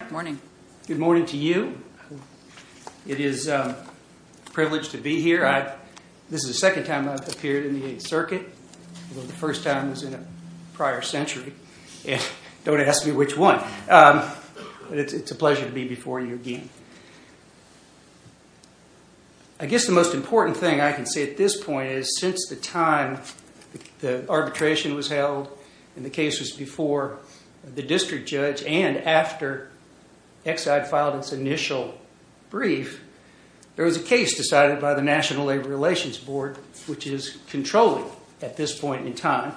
Good morning. Good morning to you. It is a privilege to be here. This is the second time I've appeared in the Eighth Circuit, although the first time was in a prior century. Don't ask me which one. But it's a pleasure to be before you again. I guess the most important thing I can say at this point is since the time the arbitration was held and the case was before the district judge and after Exide filed its initial brief, there was a case decided by the National Labor Relations Board, which is controlling at this point in time,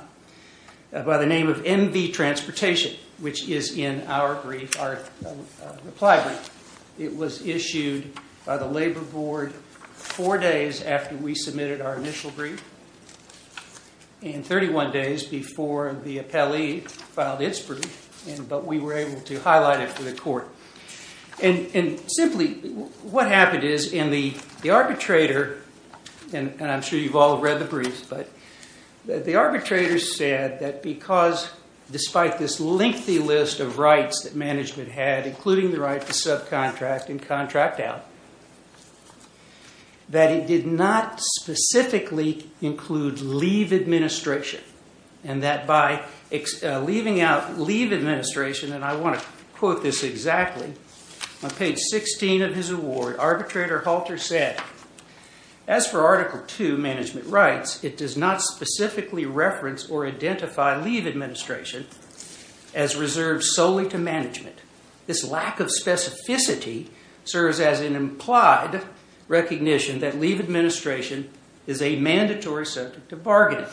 by the name of MV Transportation, which is in our reply brief. It was issued by the Labor Board four days after we submitted our initial brief and 31 days before the appellee filed its brief, but we were able to highlight it for the court. And simply what happened is in the arbitrator, and I'm sure you've all read the briefs, but the arbitrator said that because despite this lengthy list of rights that management had, including the right to subcontract and contract out, that it did not specifically include leave administration, and that by leaving out leave administration, and I want to quote this exactly, on page 16 of his award, arbitrator Halter said, As for Article 2, Management Rights, it does not specifically reference or identify leave administration as reserved solely to management. This lack of specificity serves as an implied recognition that leave administration is a mandatory subject of bargaining.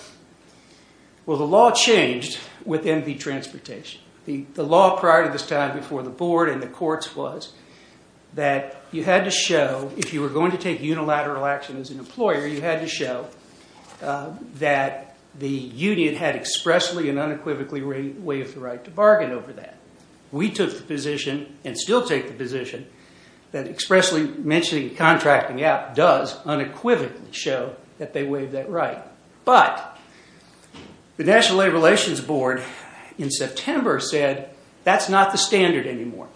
Well, the law changed with MV Transportation. The law prior to this time before the board and the courts was that you had to show, if you were going to take unilateral action as an employer, you had to show that the union had expressly and unequivocally waived the right to bargain over that. We took the position, and still take the position, that expressly mentioning contracting out does unequivocally show that they waived that right. But, the National Labor Relations Board in September said, that's not the standard anymore.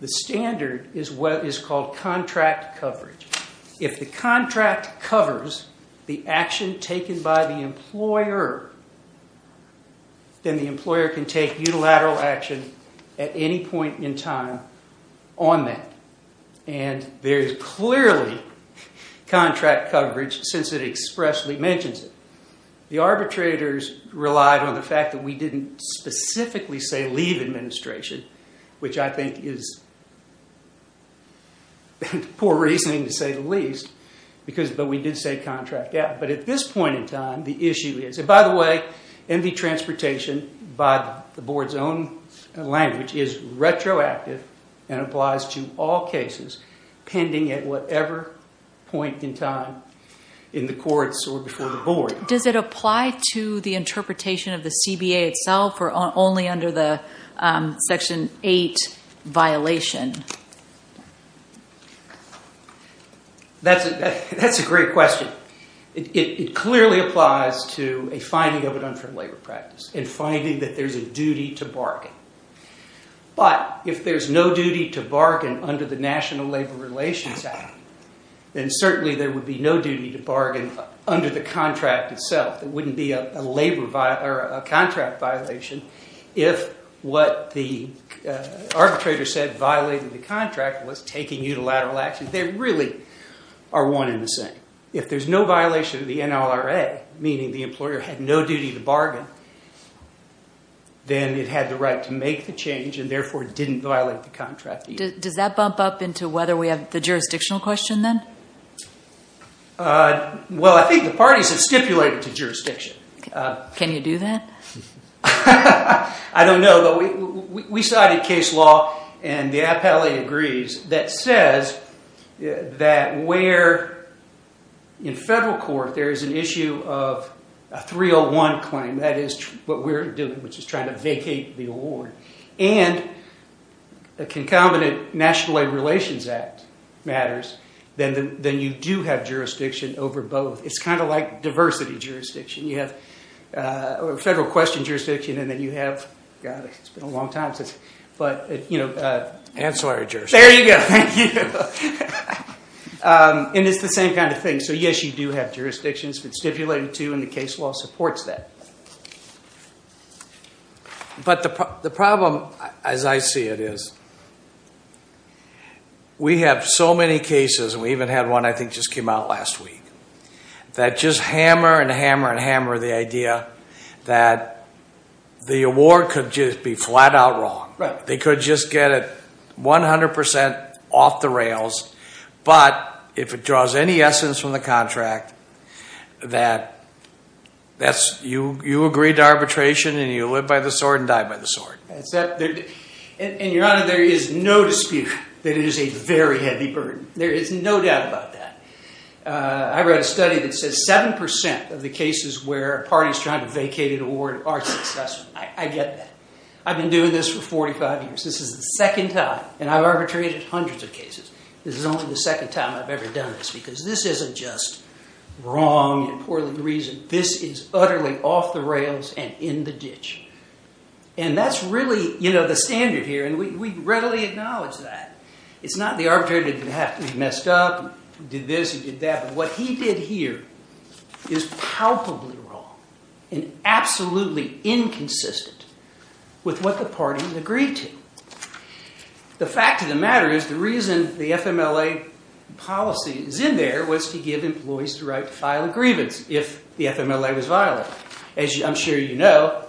The standard is what is called contract coverage. If the contract covers the action taken by the employer, then the employer can take unilateral action at any point in time on that. There is clearly contract coverage since it expressly mentions it. The arbitrators relied on the fact that we didn't specifically say leave administration, which I think is poor reasoning to say the least, but we did say contract out. But at this point in time, the issue is, and by the way, and applies to all cases pending at whatever point in time in the courts or before the board. Does it apply to the interpretation of the CBA itself or only under the Section 8 violation? That's a great question. It clearly applies to a finding of an unfair labor practice and finding that there's a duty to bargain. But, if there's no duty to bargain under the National Labor Relations Act, then certainly there would be no duty to bargain under the contract itself. It wouldn't be a contract violation if what the arbitrator said violated the contract was taking unilateral action. They really are one in the same. If there's no violation of the NLRA, meaning the employer had no duty to bargain, then it had the right to make the change and therefore didn't violate the contract. Does that bump up into whether we have the jurisdictional question then? Well, I think the parties have stipulated to jurisdiction. Can you do that? I don't know, but we cited case law and the appellate agrees that says that where in federal court there is an issue of a 301 claim, that is what we're doing, which is trying to vacate the award, and a concomitant National Labor Relations Act matters, then you do have jurisdiction over both. It's kind of like diversity jurisdiction. You have federal question jurisdiction and then you have ancillary jurisdiction. There you go. Thank you. And it's the same kind of thing. So yes, you do have jurisdictions stipulated to and the case law supports that. But the problem, as I see it, is we have so many cases, and we even had one I think just came out last week, that just hammer and hammer and hammer the idea that the award could just be flat out wrong. They could just get it 100% off the rails, but if it draws any essence from the contract, that you agree to arbitration and you live by the sword and die by the sword. And, Your Honor, there is no dispute that it is a very heavy burden. There is no doubt about that. I read a study that says 7% of the cases where a party is trying to vacate an award are successful. I get that. I've been doing this for 45 years. This is the second time. And I've arbitrated hundreds of cases. This is only the second time I've ever done this because this isn't just wrong and poorly reasoned. This is utterly off the rails and in the ditch. And that's really the standard here, and we readily acknowledge that. It's not the arbitrator that has to be messed up and did this and did that. What he did here is palpably wrong and absolutely inconsistent with what the party agreed to. The fact of the matter is the reason the FMLA policy is in there was to give employees the right to file a grievance if the FMLA was violated. As I'm sure you know,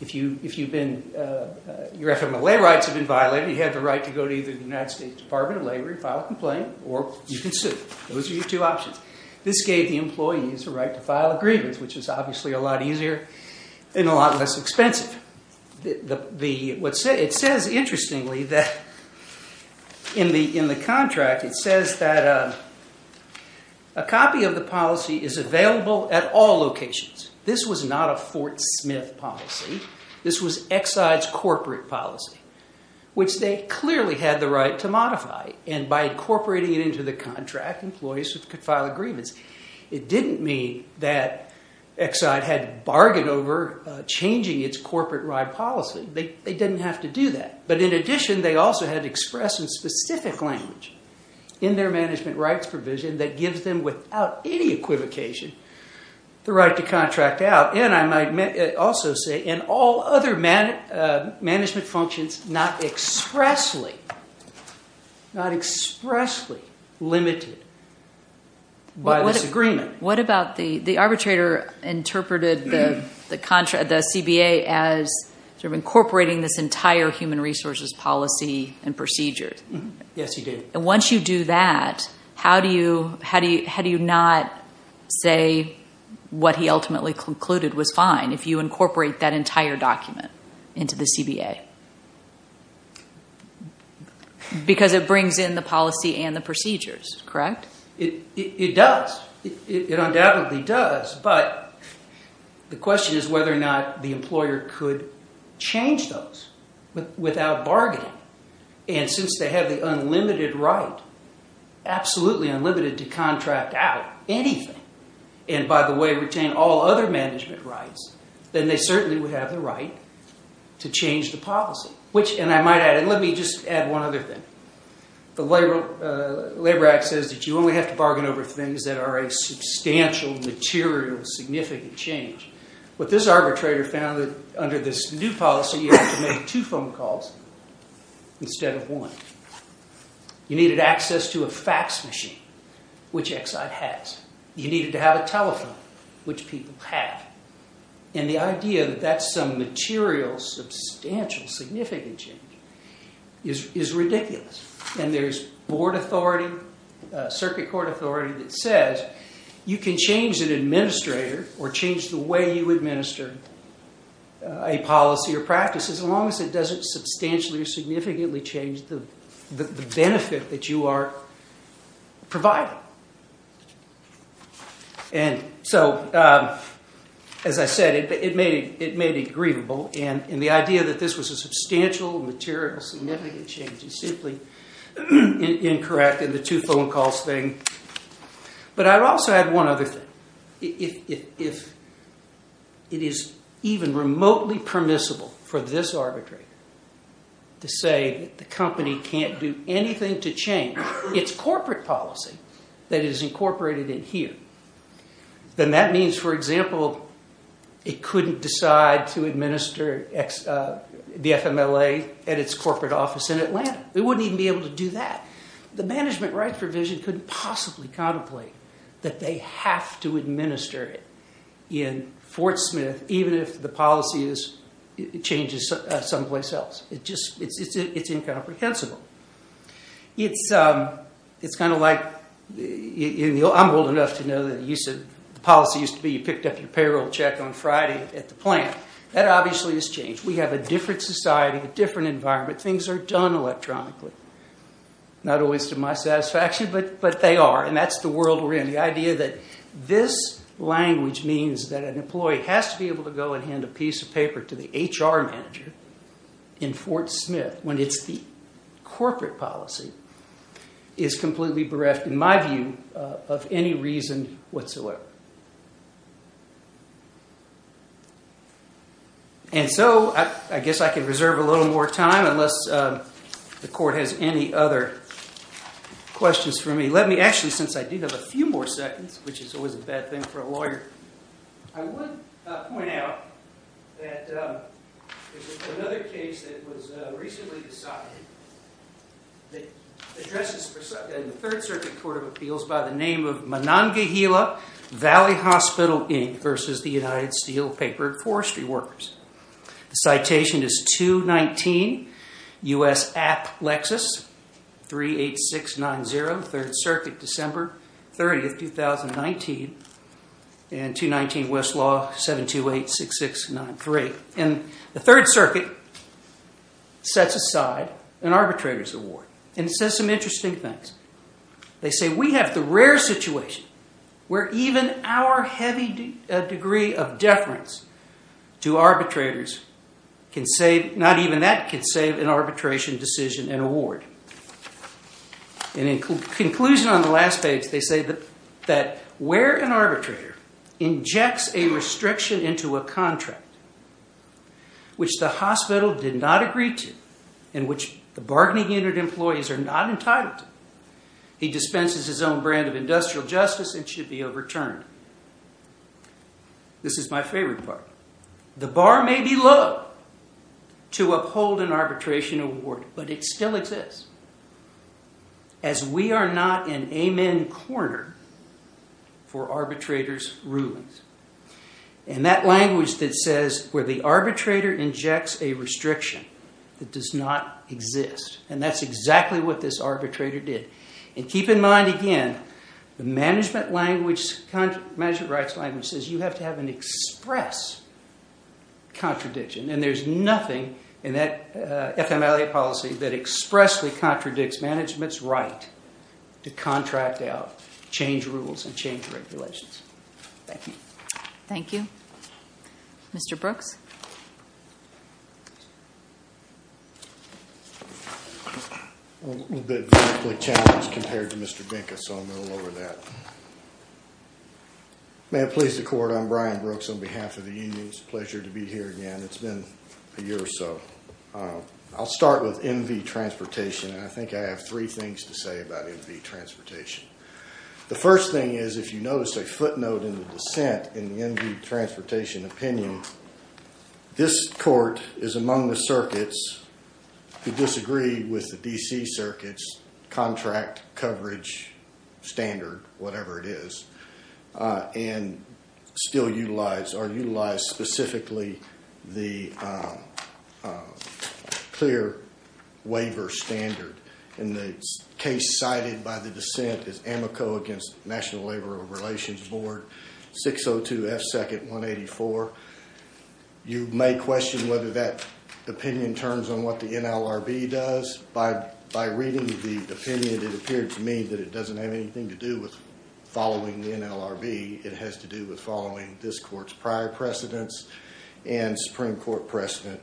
if your FMLA rights have been violated, you have the right to go to either the United States Department of Labor and file a complaint or you can sue. Those are your two options. This gave the employees the right to file a grievance, which is obviously a lot easier and a lot less expensive. It says, interestingly, in the contract, it says that a copy of the policy is available at all locations. This was not a Fort Smith policy. This was Exide's corporate policy, which they clearly had the right to modify. And by incorporating it into the contract, employees could file a grievance. It didn't mean that Exide had to bargain over changing its corporate ride policy. They didn't have to do that. But in addition, they also had to express in specific language in their management rights provision that gives them, without any equivocation, the right to contract out. And I might also say, in all other management functions, not expressly limited by this agreement. What about the arbitrator interpreted the CBA as incorporating this entire human resources policy and procedure? Yes, he did. Once you do that, how do you not say what he ultimately concluded was fine if you incorporate that entire document into the CBA? Because it brings in the policy and the procedures, correct? It does. It undoubtedly does. But the question is whether or not the employer could change those without bargaining. And since they have the unlimited right, absolutely unlimited, to contract out anything, and by the way, retain all other management rights, then they certainly would have the right to change the policy. And let me just add one other thing. The Labor Act says that you only have to bargain over things that are a substantial, material, significant change. But this arbitrator found that under this new policy, you have to make two phone calls instead of one. You needed access to a fax machine, which Exide has. You needed to have a telephone, which people have. And the idea that that's some material, substantial, significant change is ridiculous. And there's board authority, circuit court authority, that says you can change an administrator or change the way you administer a policy or practice, as long as it doesn't substantially or significantly change the benefit that you are providing. And so, as I said, it may be agreeable. And the idea that this was a substantial, material, significant change is simply incorrect in the two phone calls thing. But I'd also add one other thing. If it is even remotely permissible for this arbitrator to say that the company can't do anything to change its corporate policy that is incorporated in here, then that means, for example, it couldn't decide to administer the FMLA at its corporate office in Atlanta. It wouldn't even be able to do that. The management rights provision couldn't possibly contemplate that they have to administer it in Fort Smith, even if the policy changes someplace else. It's incomprehensible. It's kind of like, I'm old enough to know that the policy used to be you picked up your payroll check on Friday at the plant. That obviously has changed. We have a different society, a different environment. Things are done electronically. Not always to my satisfaction, but they are. And that's the world we're in. So the idea that this language means that an employee has to be able to go and hand a piece of paper to the HR manager in Fort Smith when it's the corporate policy is completely bereft, in my view, of any reason whatsoever. And so I guess I can reserve a little more time, unless the court has any other questions for me. Actually, since I do have a few more seconds, which is always a bad thing for a lawyer, I would point out that there's another case that was recently decided. It addresses the Third Circuit Court of Appeals by the name of Monongahela Valley Hospital, Inc., versus the United Steel Paper and Forestry Workers. The citation is 219 U.S. App. Lexis, 38690, Third Circuit, December 30th, 2019. And 219 Westlaw, 7286693. And the Third Circuit sets aside an arbitrator's award and says some interesting things. They say, we have the rare situation where even our heavy degree of deference to arbitrators can save, not even that, can save an arbitration decision an award. In conclusion on the last page, they say that where an arbitrator injects a restriction into a contract which the hospital did not agree to, in which the bargaining unit employees are not entitled to, he dispenses his own brand of industrial justice and should be overturned. This is my favorite part. The bar may be low to uphold an arbitration award, but it still exists, as we are not an amen corner for arbitrators' rulings. And that language that says where the arbitrator injects a restriction that does not exist, and that's exactly what this arbitrator did. And keep in mind, again, the management rights language says you have to have an express contradiction. And there's nothing in that FMLA policy that expressly contradicts management's right to contract out, change rules, and change regulations. Thank you. Thank you. Mr. Brooks? A little bit vehemently challenged compared to Mr. Dinka, so I'm going to lower that. May it please the court, I'm Brian Brooks on behalf of the union. It's a pleasure to be here again. It's been a year or so. I'll start with MV Transportation, and I think I have three things to say about MV Transportation. The first thing is if you notice a footnote in the dissent in the MV Transportation opinion, this court is among the circuits who disagree with the D.C. Circuit's contract coverage standard, whatever it is, and still utilize or utilize specifically the clear waiver standard. And the case cited by the dissent is Amoco against National Labor Relations Board, 602 F. 2nd. 184. You may question whether that opinion turns on what the NLRB does. By reading the opinion, it appeared to me that it doesn't have anything to do with following the NLRB. It has to do with following this court's prior precedents and Supreme Court precedent.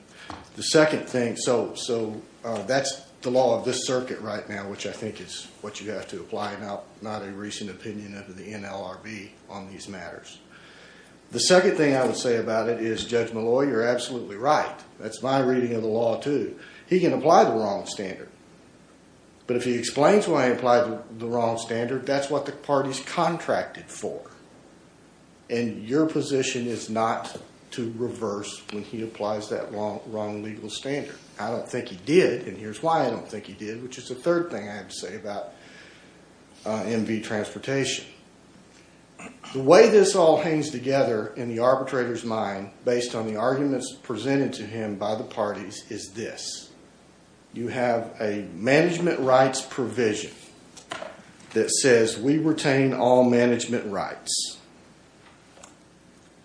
The second thing, so that's the law of this circuit right now, which I think is what you have to apply, not a recent opinion of the NLRB on these matters. The second thing I would say about it is Judge Malloy, you're absolutely right. That's my reading of the law, too. He can apply the wrong standard. But if he explains why he applied the wrong standard, that's what the party's contracted for. And your position is not to reverse when he applies that wrong legal standard. I don't think he did, and here's why I don't think he did, which is the third thing I have to say about MV transportation. The way this all hangs together in the arbitrator's mind, based on the arguments presented to him by the parties, is this. You have a management rights provision that says we retain all management rights.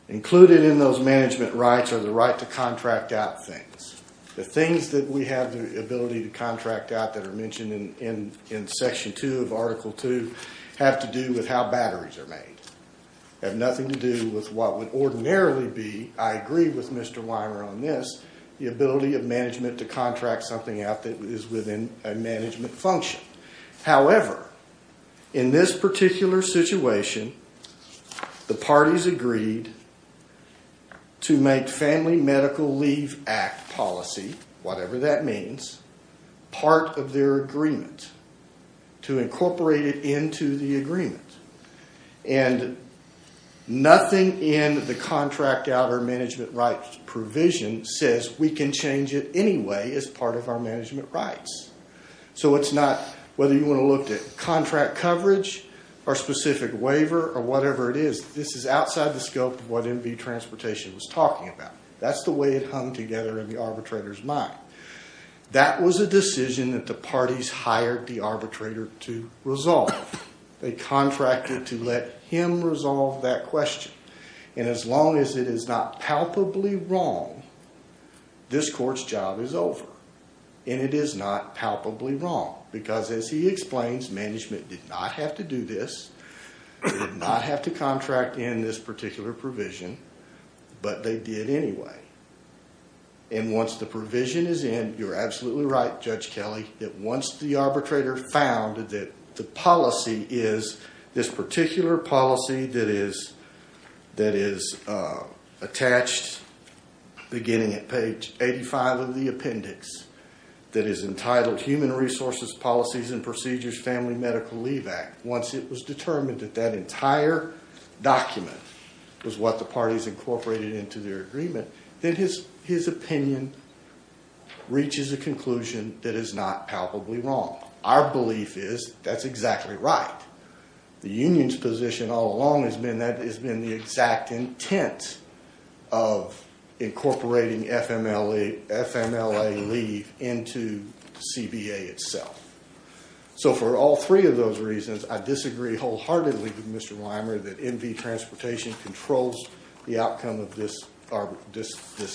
Included in those management rights are the right to contract out things. The things that we have the ability to contract out that are mentioned in Section 2 of Article 2 have to do with how batteries are made. They have nothing to do with what would ordinarily be, I agree with Mr. Weimer on this, the ability of management to contract something out that is within a management function. However, in this particular situation, the parties agreed to make Family Medical Leave Act policy, whatever that means, part of their agreement. To incorporate it into the agreement. And nothing in the contract out or management rights provision says we can change it anyway as part of our management rights. So it's not, whether you want to look at contract coverage or specific waiver or whatever it is, this is outside the scope of what MV transportation was talking about. That's the way it hung together in the arbitrator's mind. That was a decision that the parties hired the arbitrator to resolve. They contracted to let him resolve that question. And as long as it is not palpably wrong, this court's job is over. And it is not palpably wrong. Because as he explains, management did not have to do this, did not have to contract in this particular provision, but they did anyway. And once the provision is in, you're absolutely right, Judge Kelly, that once the arbitrator found that the policy is this particular policy that is attached beginning at page 85 of the appendix. That is entitled Human Resources Policies and Procedures Family Medical Leave Act. Once it was determined that that entire document was what the parties incorporated into their agreement, then his opinion reaches a conclusion that is not palpably wrong. Our belief is that's exactly right. The union's position all along has been that has been the exact intent of incorporating FMLA leave into CBA itself. So for all three of those reasons, I disagree wholeheartedly with Mr. Weimer that MV Transportation controls the outcome of this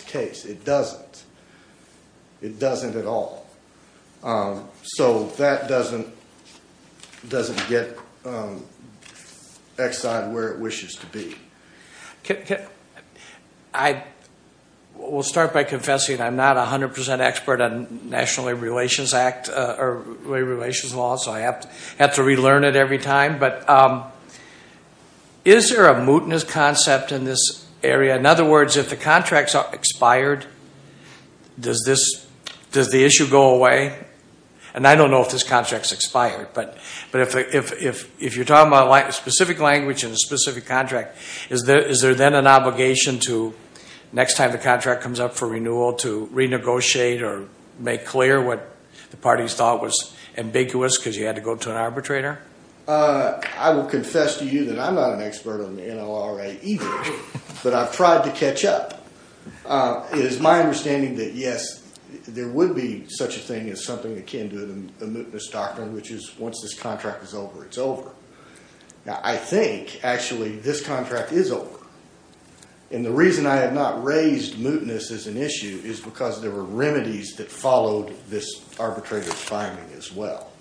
case. It doesn't. It doesn't at all. So that doesn't get Exide where it wishes to be. I will start by confessing I'm not 100% expert on National Labor Relations Act or labor relations law, so I have to relearn it every time. But is there a mootness concept in this area? In other words, if the contracts are expired, does the issue go away? And I don't know if this contract's expired. But if you're talking about a specific language and a specific contract, is there then an obligation to next time the contract comes up for renewal to renegotiate or make clear what the parties thought was ambiguous because you had to go to an arbitrator? I will confess to you that I'm not an expert on NLRA either, but I've tried to catch up. It is my understanding that, yes, there would be such a thing as something akin to a mootness doctrine, which is once this contract is over, it's over. Now, I think, actually, this contract is over. And the reason I have not raised mootness as an issue is because there were remedies that followed this arbitrator's finding as well.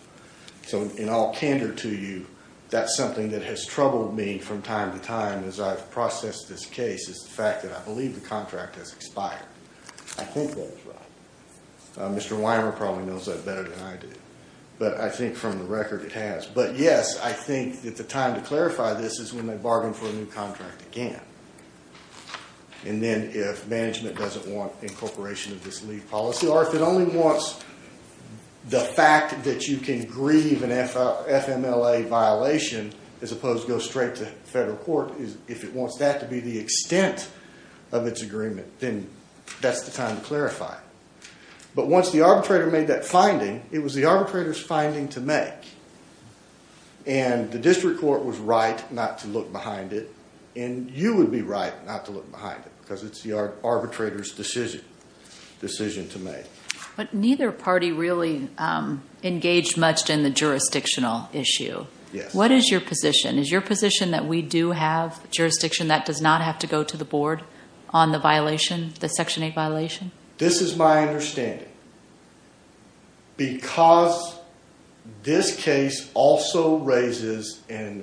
So in all candor to you, that's something that has troubled me from time to time as I've processed this case is the fact that I believe the contract has expired. I hope that is right. Mr. Weimer probably knows that better than I do. But I think from the record it has. But, yes, I think that the time to clarify this is when they bargain for a new contract again. And then if management doesn't want incorporation of this leave policy, or if it only wants the fact that you can grieve an FMLA violation as opposed to go straight to federal court, if it wants that to be the extent of its agreement, then that's the time to clarify. But once the arbitrator made that finding, it was the arbitrator's finding to make. And the district court was right not to look behind it. And you would be right not to look behind it because it's the arbitrator's decision to make. But neither party really engaged much in the jurisdictional issue. Yes. What is your position? Is your position that we do have jurisdiction that does not have to go to the board on the violation, the Section 8 violation? This is my understanding. Because this case also raises a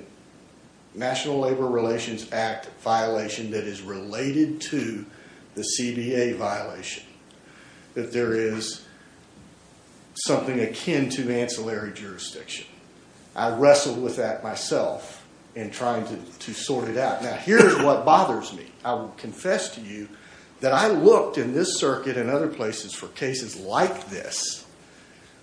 National Labor Relations Act violation that is related to the CBA violation, that there is something akin to ancillary jurisdiction. I wrestled with that myself in trying to sort it out. Now, here's what bothers me. I will confess to you that I looked in this circuit and other places for cases like this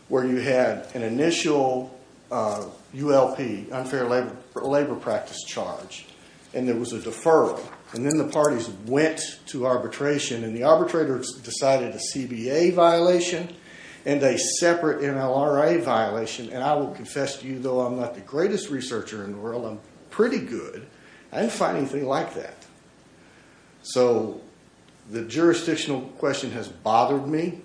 where you had an initial ULP, unfair labor practice charge, and there was a deferral. And then the parties went to arbitration, and the arbitrators decided a CBA violation and a separate MLRA violation. And I will confess to you, though I'm not the greatest researcher in the world, I'm pretty good, I didn't find anything like that. So, the jurisdictional question has bothered me.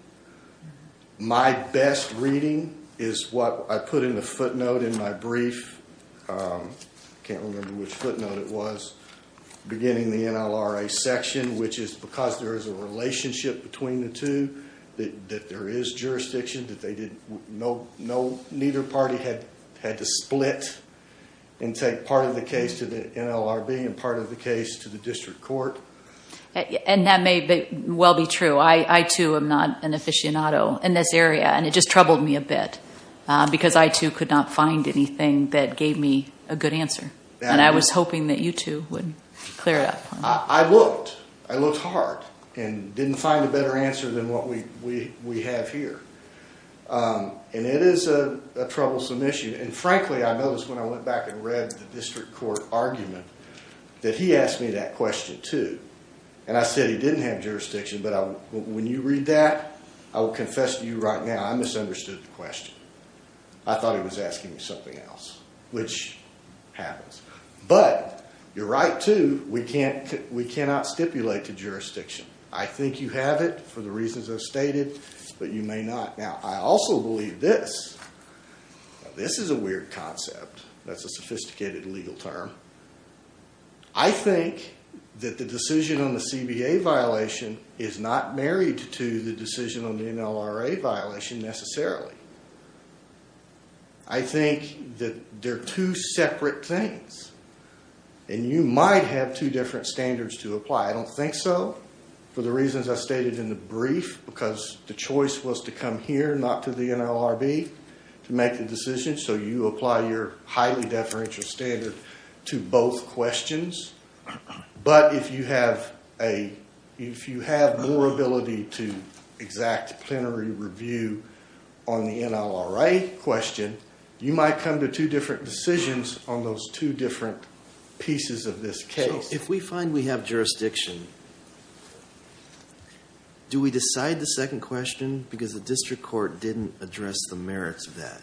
My best reading is what I put in the footnote in my brief. I can't remember which footnote it was. beginning the NLRA section, which is because there is a relationship between the two, that there is jurisdiction, that neither party had to split and take part of the case to the NLRB and part of the case to the district court. And that may well be true. I, too, am not an aficionado in this area, and it just troubled me a bit. Because I, too, could not find anything that gave me a good answer. And I was hoping that you, too, would clear it up for me. I looked. I looked hard and didn't find a better answer than what we have here. And it is a troublesome issue. And frankly, I noticed when I went back and read the district court argument that he asked me that question, too. And I said he didn't have jurisdiction, but when you read that, I will confess to you right now, I misunderstood the question. I thought he was asking me something else, which happens. But you're right, too, we cannot stipulate to jurisdiction. I think you have it for the reasons I've stated, but you may not. Now, I also believe this. This is a weird concept. That's a sophisticated legal term. I think that the decision on the CBA violation is not married to the decision on the NLRA violation, necessarily. I think that they're two separate things. And you might have two different standards to apply. I don't think so, for the reasons I stated in the brief, because the choice was to come here, not to the NLRB, to make the decision. So you apply your highly deferential standard to both questions. But if you have more ability to exact plenary review on the NLRA question, you might come to two different decisions on those two different pieces of this case. If we find we have jurisdiction, do we decide the second question because the district court didn't address the merits of that?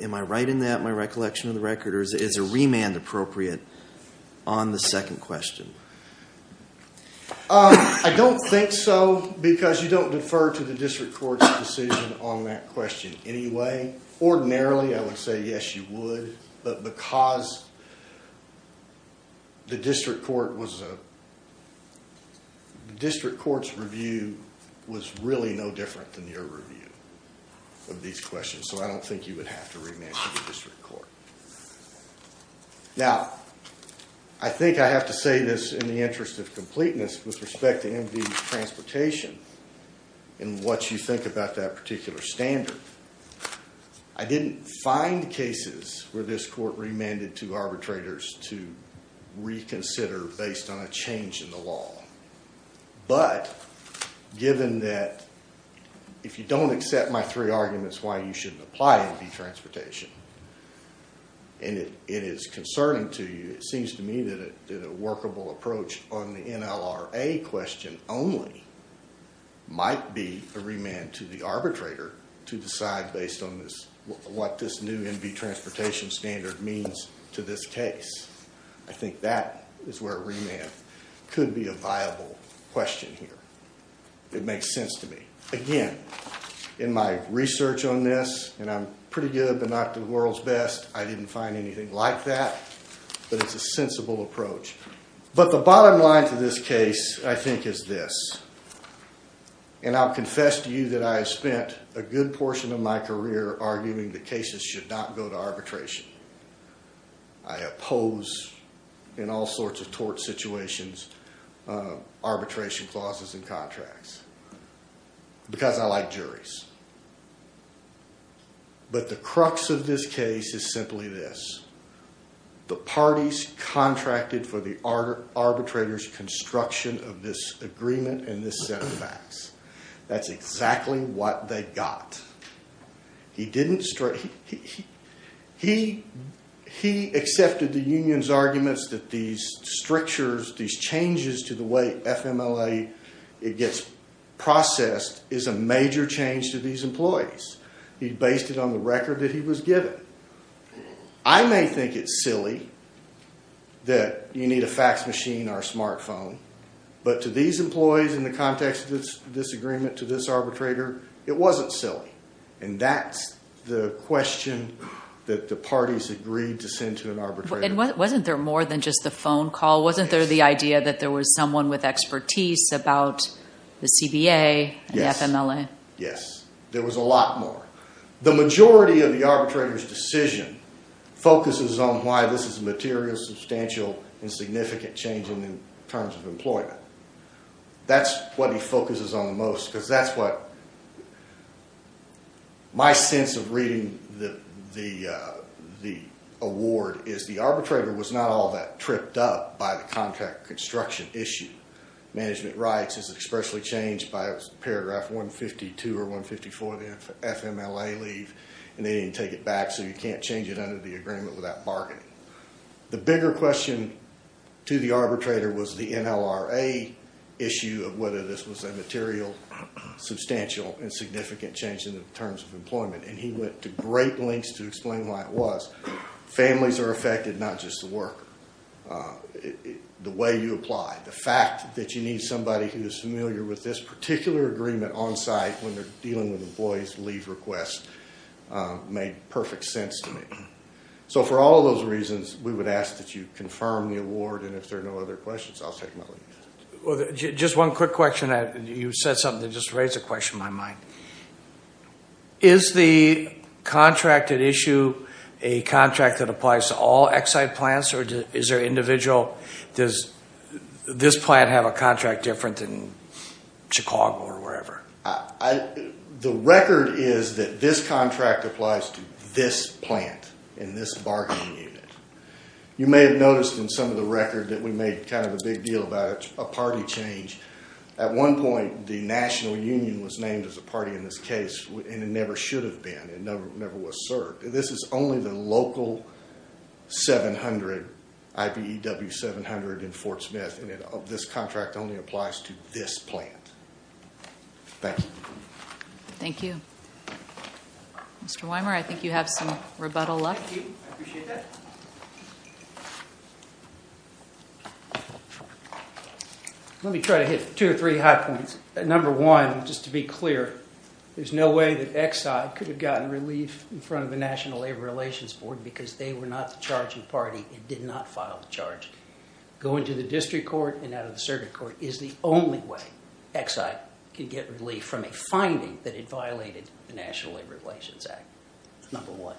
Am I right in that, in my recollection of the record, or is a remand appropriate on the second question? I don't think so, because you don't defer to the district court's decision on that question anyway. Ordinarily, I would say, yes, you would, but because the district court's review was really no different than your review of these questions, so I don't think you would have to remand to the district court. Now, I think I have to say this in the interest of completeness with respect to MV transportation and what you think about that particular standard. I didn't find cases where this court remanded to arbitrators to reconsider based on a change in the law. But given that if you don't accept my three arguments why you shouldn't apply MV transportation, and it is concerning to you, it seems to me that a workable approach on the NLRA question only might be a remand to the arbitrator to decide based on what this new MV transportation standard means to this case. I think that is where a remand could be a viable question here. It makes sense to me. Again, in my research on this, and I'm pretty good, but not the world's best, I didn't find anything like that. But it's a sensible approach. But the bottom line to this case, I think, is this. And I'll confess to you that I have spent a good portion of my career arguing that cases should not go to arbitration. I oppose, in all sorts of tort situations, arbitration clauses and contracts because I like juries. But the crux of this case is simply this. The parties contracted for the arbitrator's construction of this agreement and this set of facts. That's exactly what they got. He accepted the union's arguments that these changes to the way FMLA gets processed is a major change to these employees. He based it on the record that he was given. I may think it's silly that you need a fax machine or a smartphone, but to these employees in the context of this agreement, to this arbitrator, it wasn't silly. And that's the question that the parties agreed to send to an arbitrator. And wasn't there more than just the phone call? Yes. Wasn't there the idea that there was someone with expertise about the CBA and FMLA? Yes. There was a lot more. The majority of the arbitrator's decision focuses on why this is a material, substantial, and significant change in terms of employment. That's what he focuses on the most because that's what my sense of reading the award is. The arbitrator was not all that tripped up by the contract construction issue. Management rights is expressly changed by paragraph 152 or 154 of the FMLA leave, and they didn't take it back. So you can't change it under the agreement without bargaining. The bigger question to the arbitrator was the NLRA issue of whether this was a material, substantial, and significant change in terms of employment. And he went to great lengths to explain why it was. Families are affected, not just the worker. The way you apply. The fact that you need somebody who is familiar with this particular agreement on site when they're dealing with employees' leave requests made perfect sense to me. So for all of those reasons, we would ask that you confirm the award, and if there are no other questions, I'll take my leave. Just one quick question. You said something that just raised a question in my mind. Is the contract at issue a contract that applies to all Exide plants, or is there an individual? Does this plant have a contract different than Chicago or wherever? The record is that this contract applies to this plant in this bargaining unit. You may have noticed in some of the record that we made kind of a big deal about a party change. At one point, the National Union was named as a party in this case, and it never should have been. It never was served. This is only the local 700, IBEW 700 in Fort Smith, and this contract only applies to this plant. Thank you. Thank you. Mr. Weimer, I think you have some rebuttal left. Thank you. I appreciate that. Let me try to hit two or three high points. Number one, just to be clear, there's no way that Exide could have gotten relief in front of the National Labor Relations Board because they were not the charging party and did not file the charge. Going to the district court and out of the circuit court is the only way Exide could get relief from a finding that it violated the National Labor Relations Act, number one.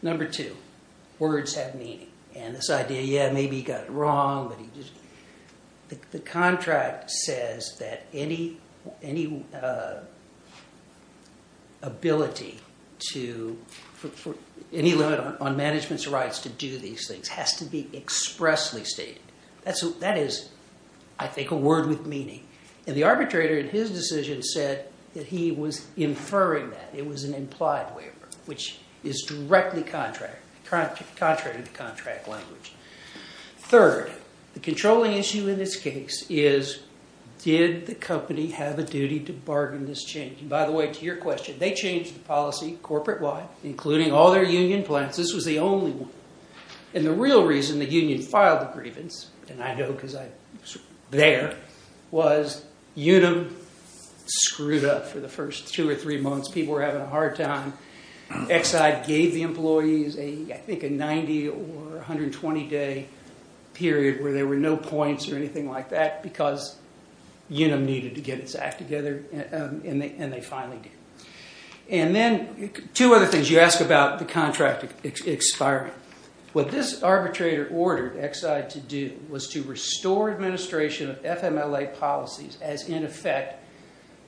Number two, words have meaning. This idea, yeah, maybe he got it wrong. The contract says that any limit on management's rights to do these things has to be expressly stated. That is, I think, a word with meaning. The arbitrator in his decision said that he was inferring that. It was an implied waiver, which is directly contrary to the contract language. Third, the controlling issue in this case is did the company have a duty to bargain this change? And by the way, to your question, they changed the policy corporate-wide, including all their union plants. This was the only one. And the real reason the union filed the grievance, and I know because I was there, was Unum screwed up for the first two or three months. People were having a hard time. Exide gave the employees, I think, a 90- or 120-day period where there were no points or anything like that because Unum needed to get its act together, and they finally did. And then two other things. You ask about the contract expiring. What this arbitrator ordered Exide to do was to restore administration of FMLA policies as in effect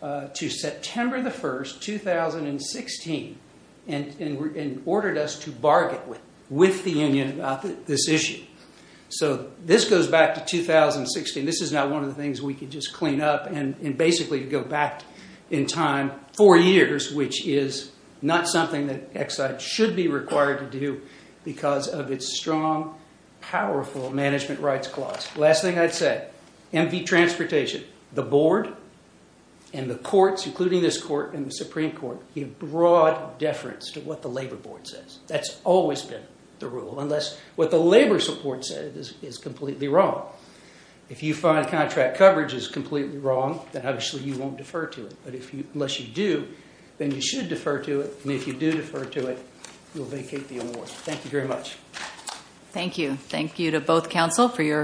to September 1, 2016, and ordered us to bargain with the union about this issue. So this goes back to 2016. This is not one of the things we could just clean up and basically go back in time four years, which is not something that Exide should be required to do because of its strong, powerful management rights clause. Last thing I'd say, MV Transportation, the board and the courts, including this court and the Supreme Court, give broad deference to what the labor board says. That's always been the rule, unless what the labor support said is completely wrong. If you find contract coverage is completely wrong, then obviously you won't defer to it. But unless you do, then you should defer to it, and if you do defer to it, you'll vacate the award. Thank you very much. Thank you. Thank you to both counsel for your...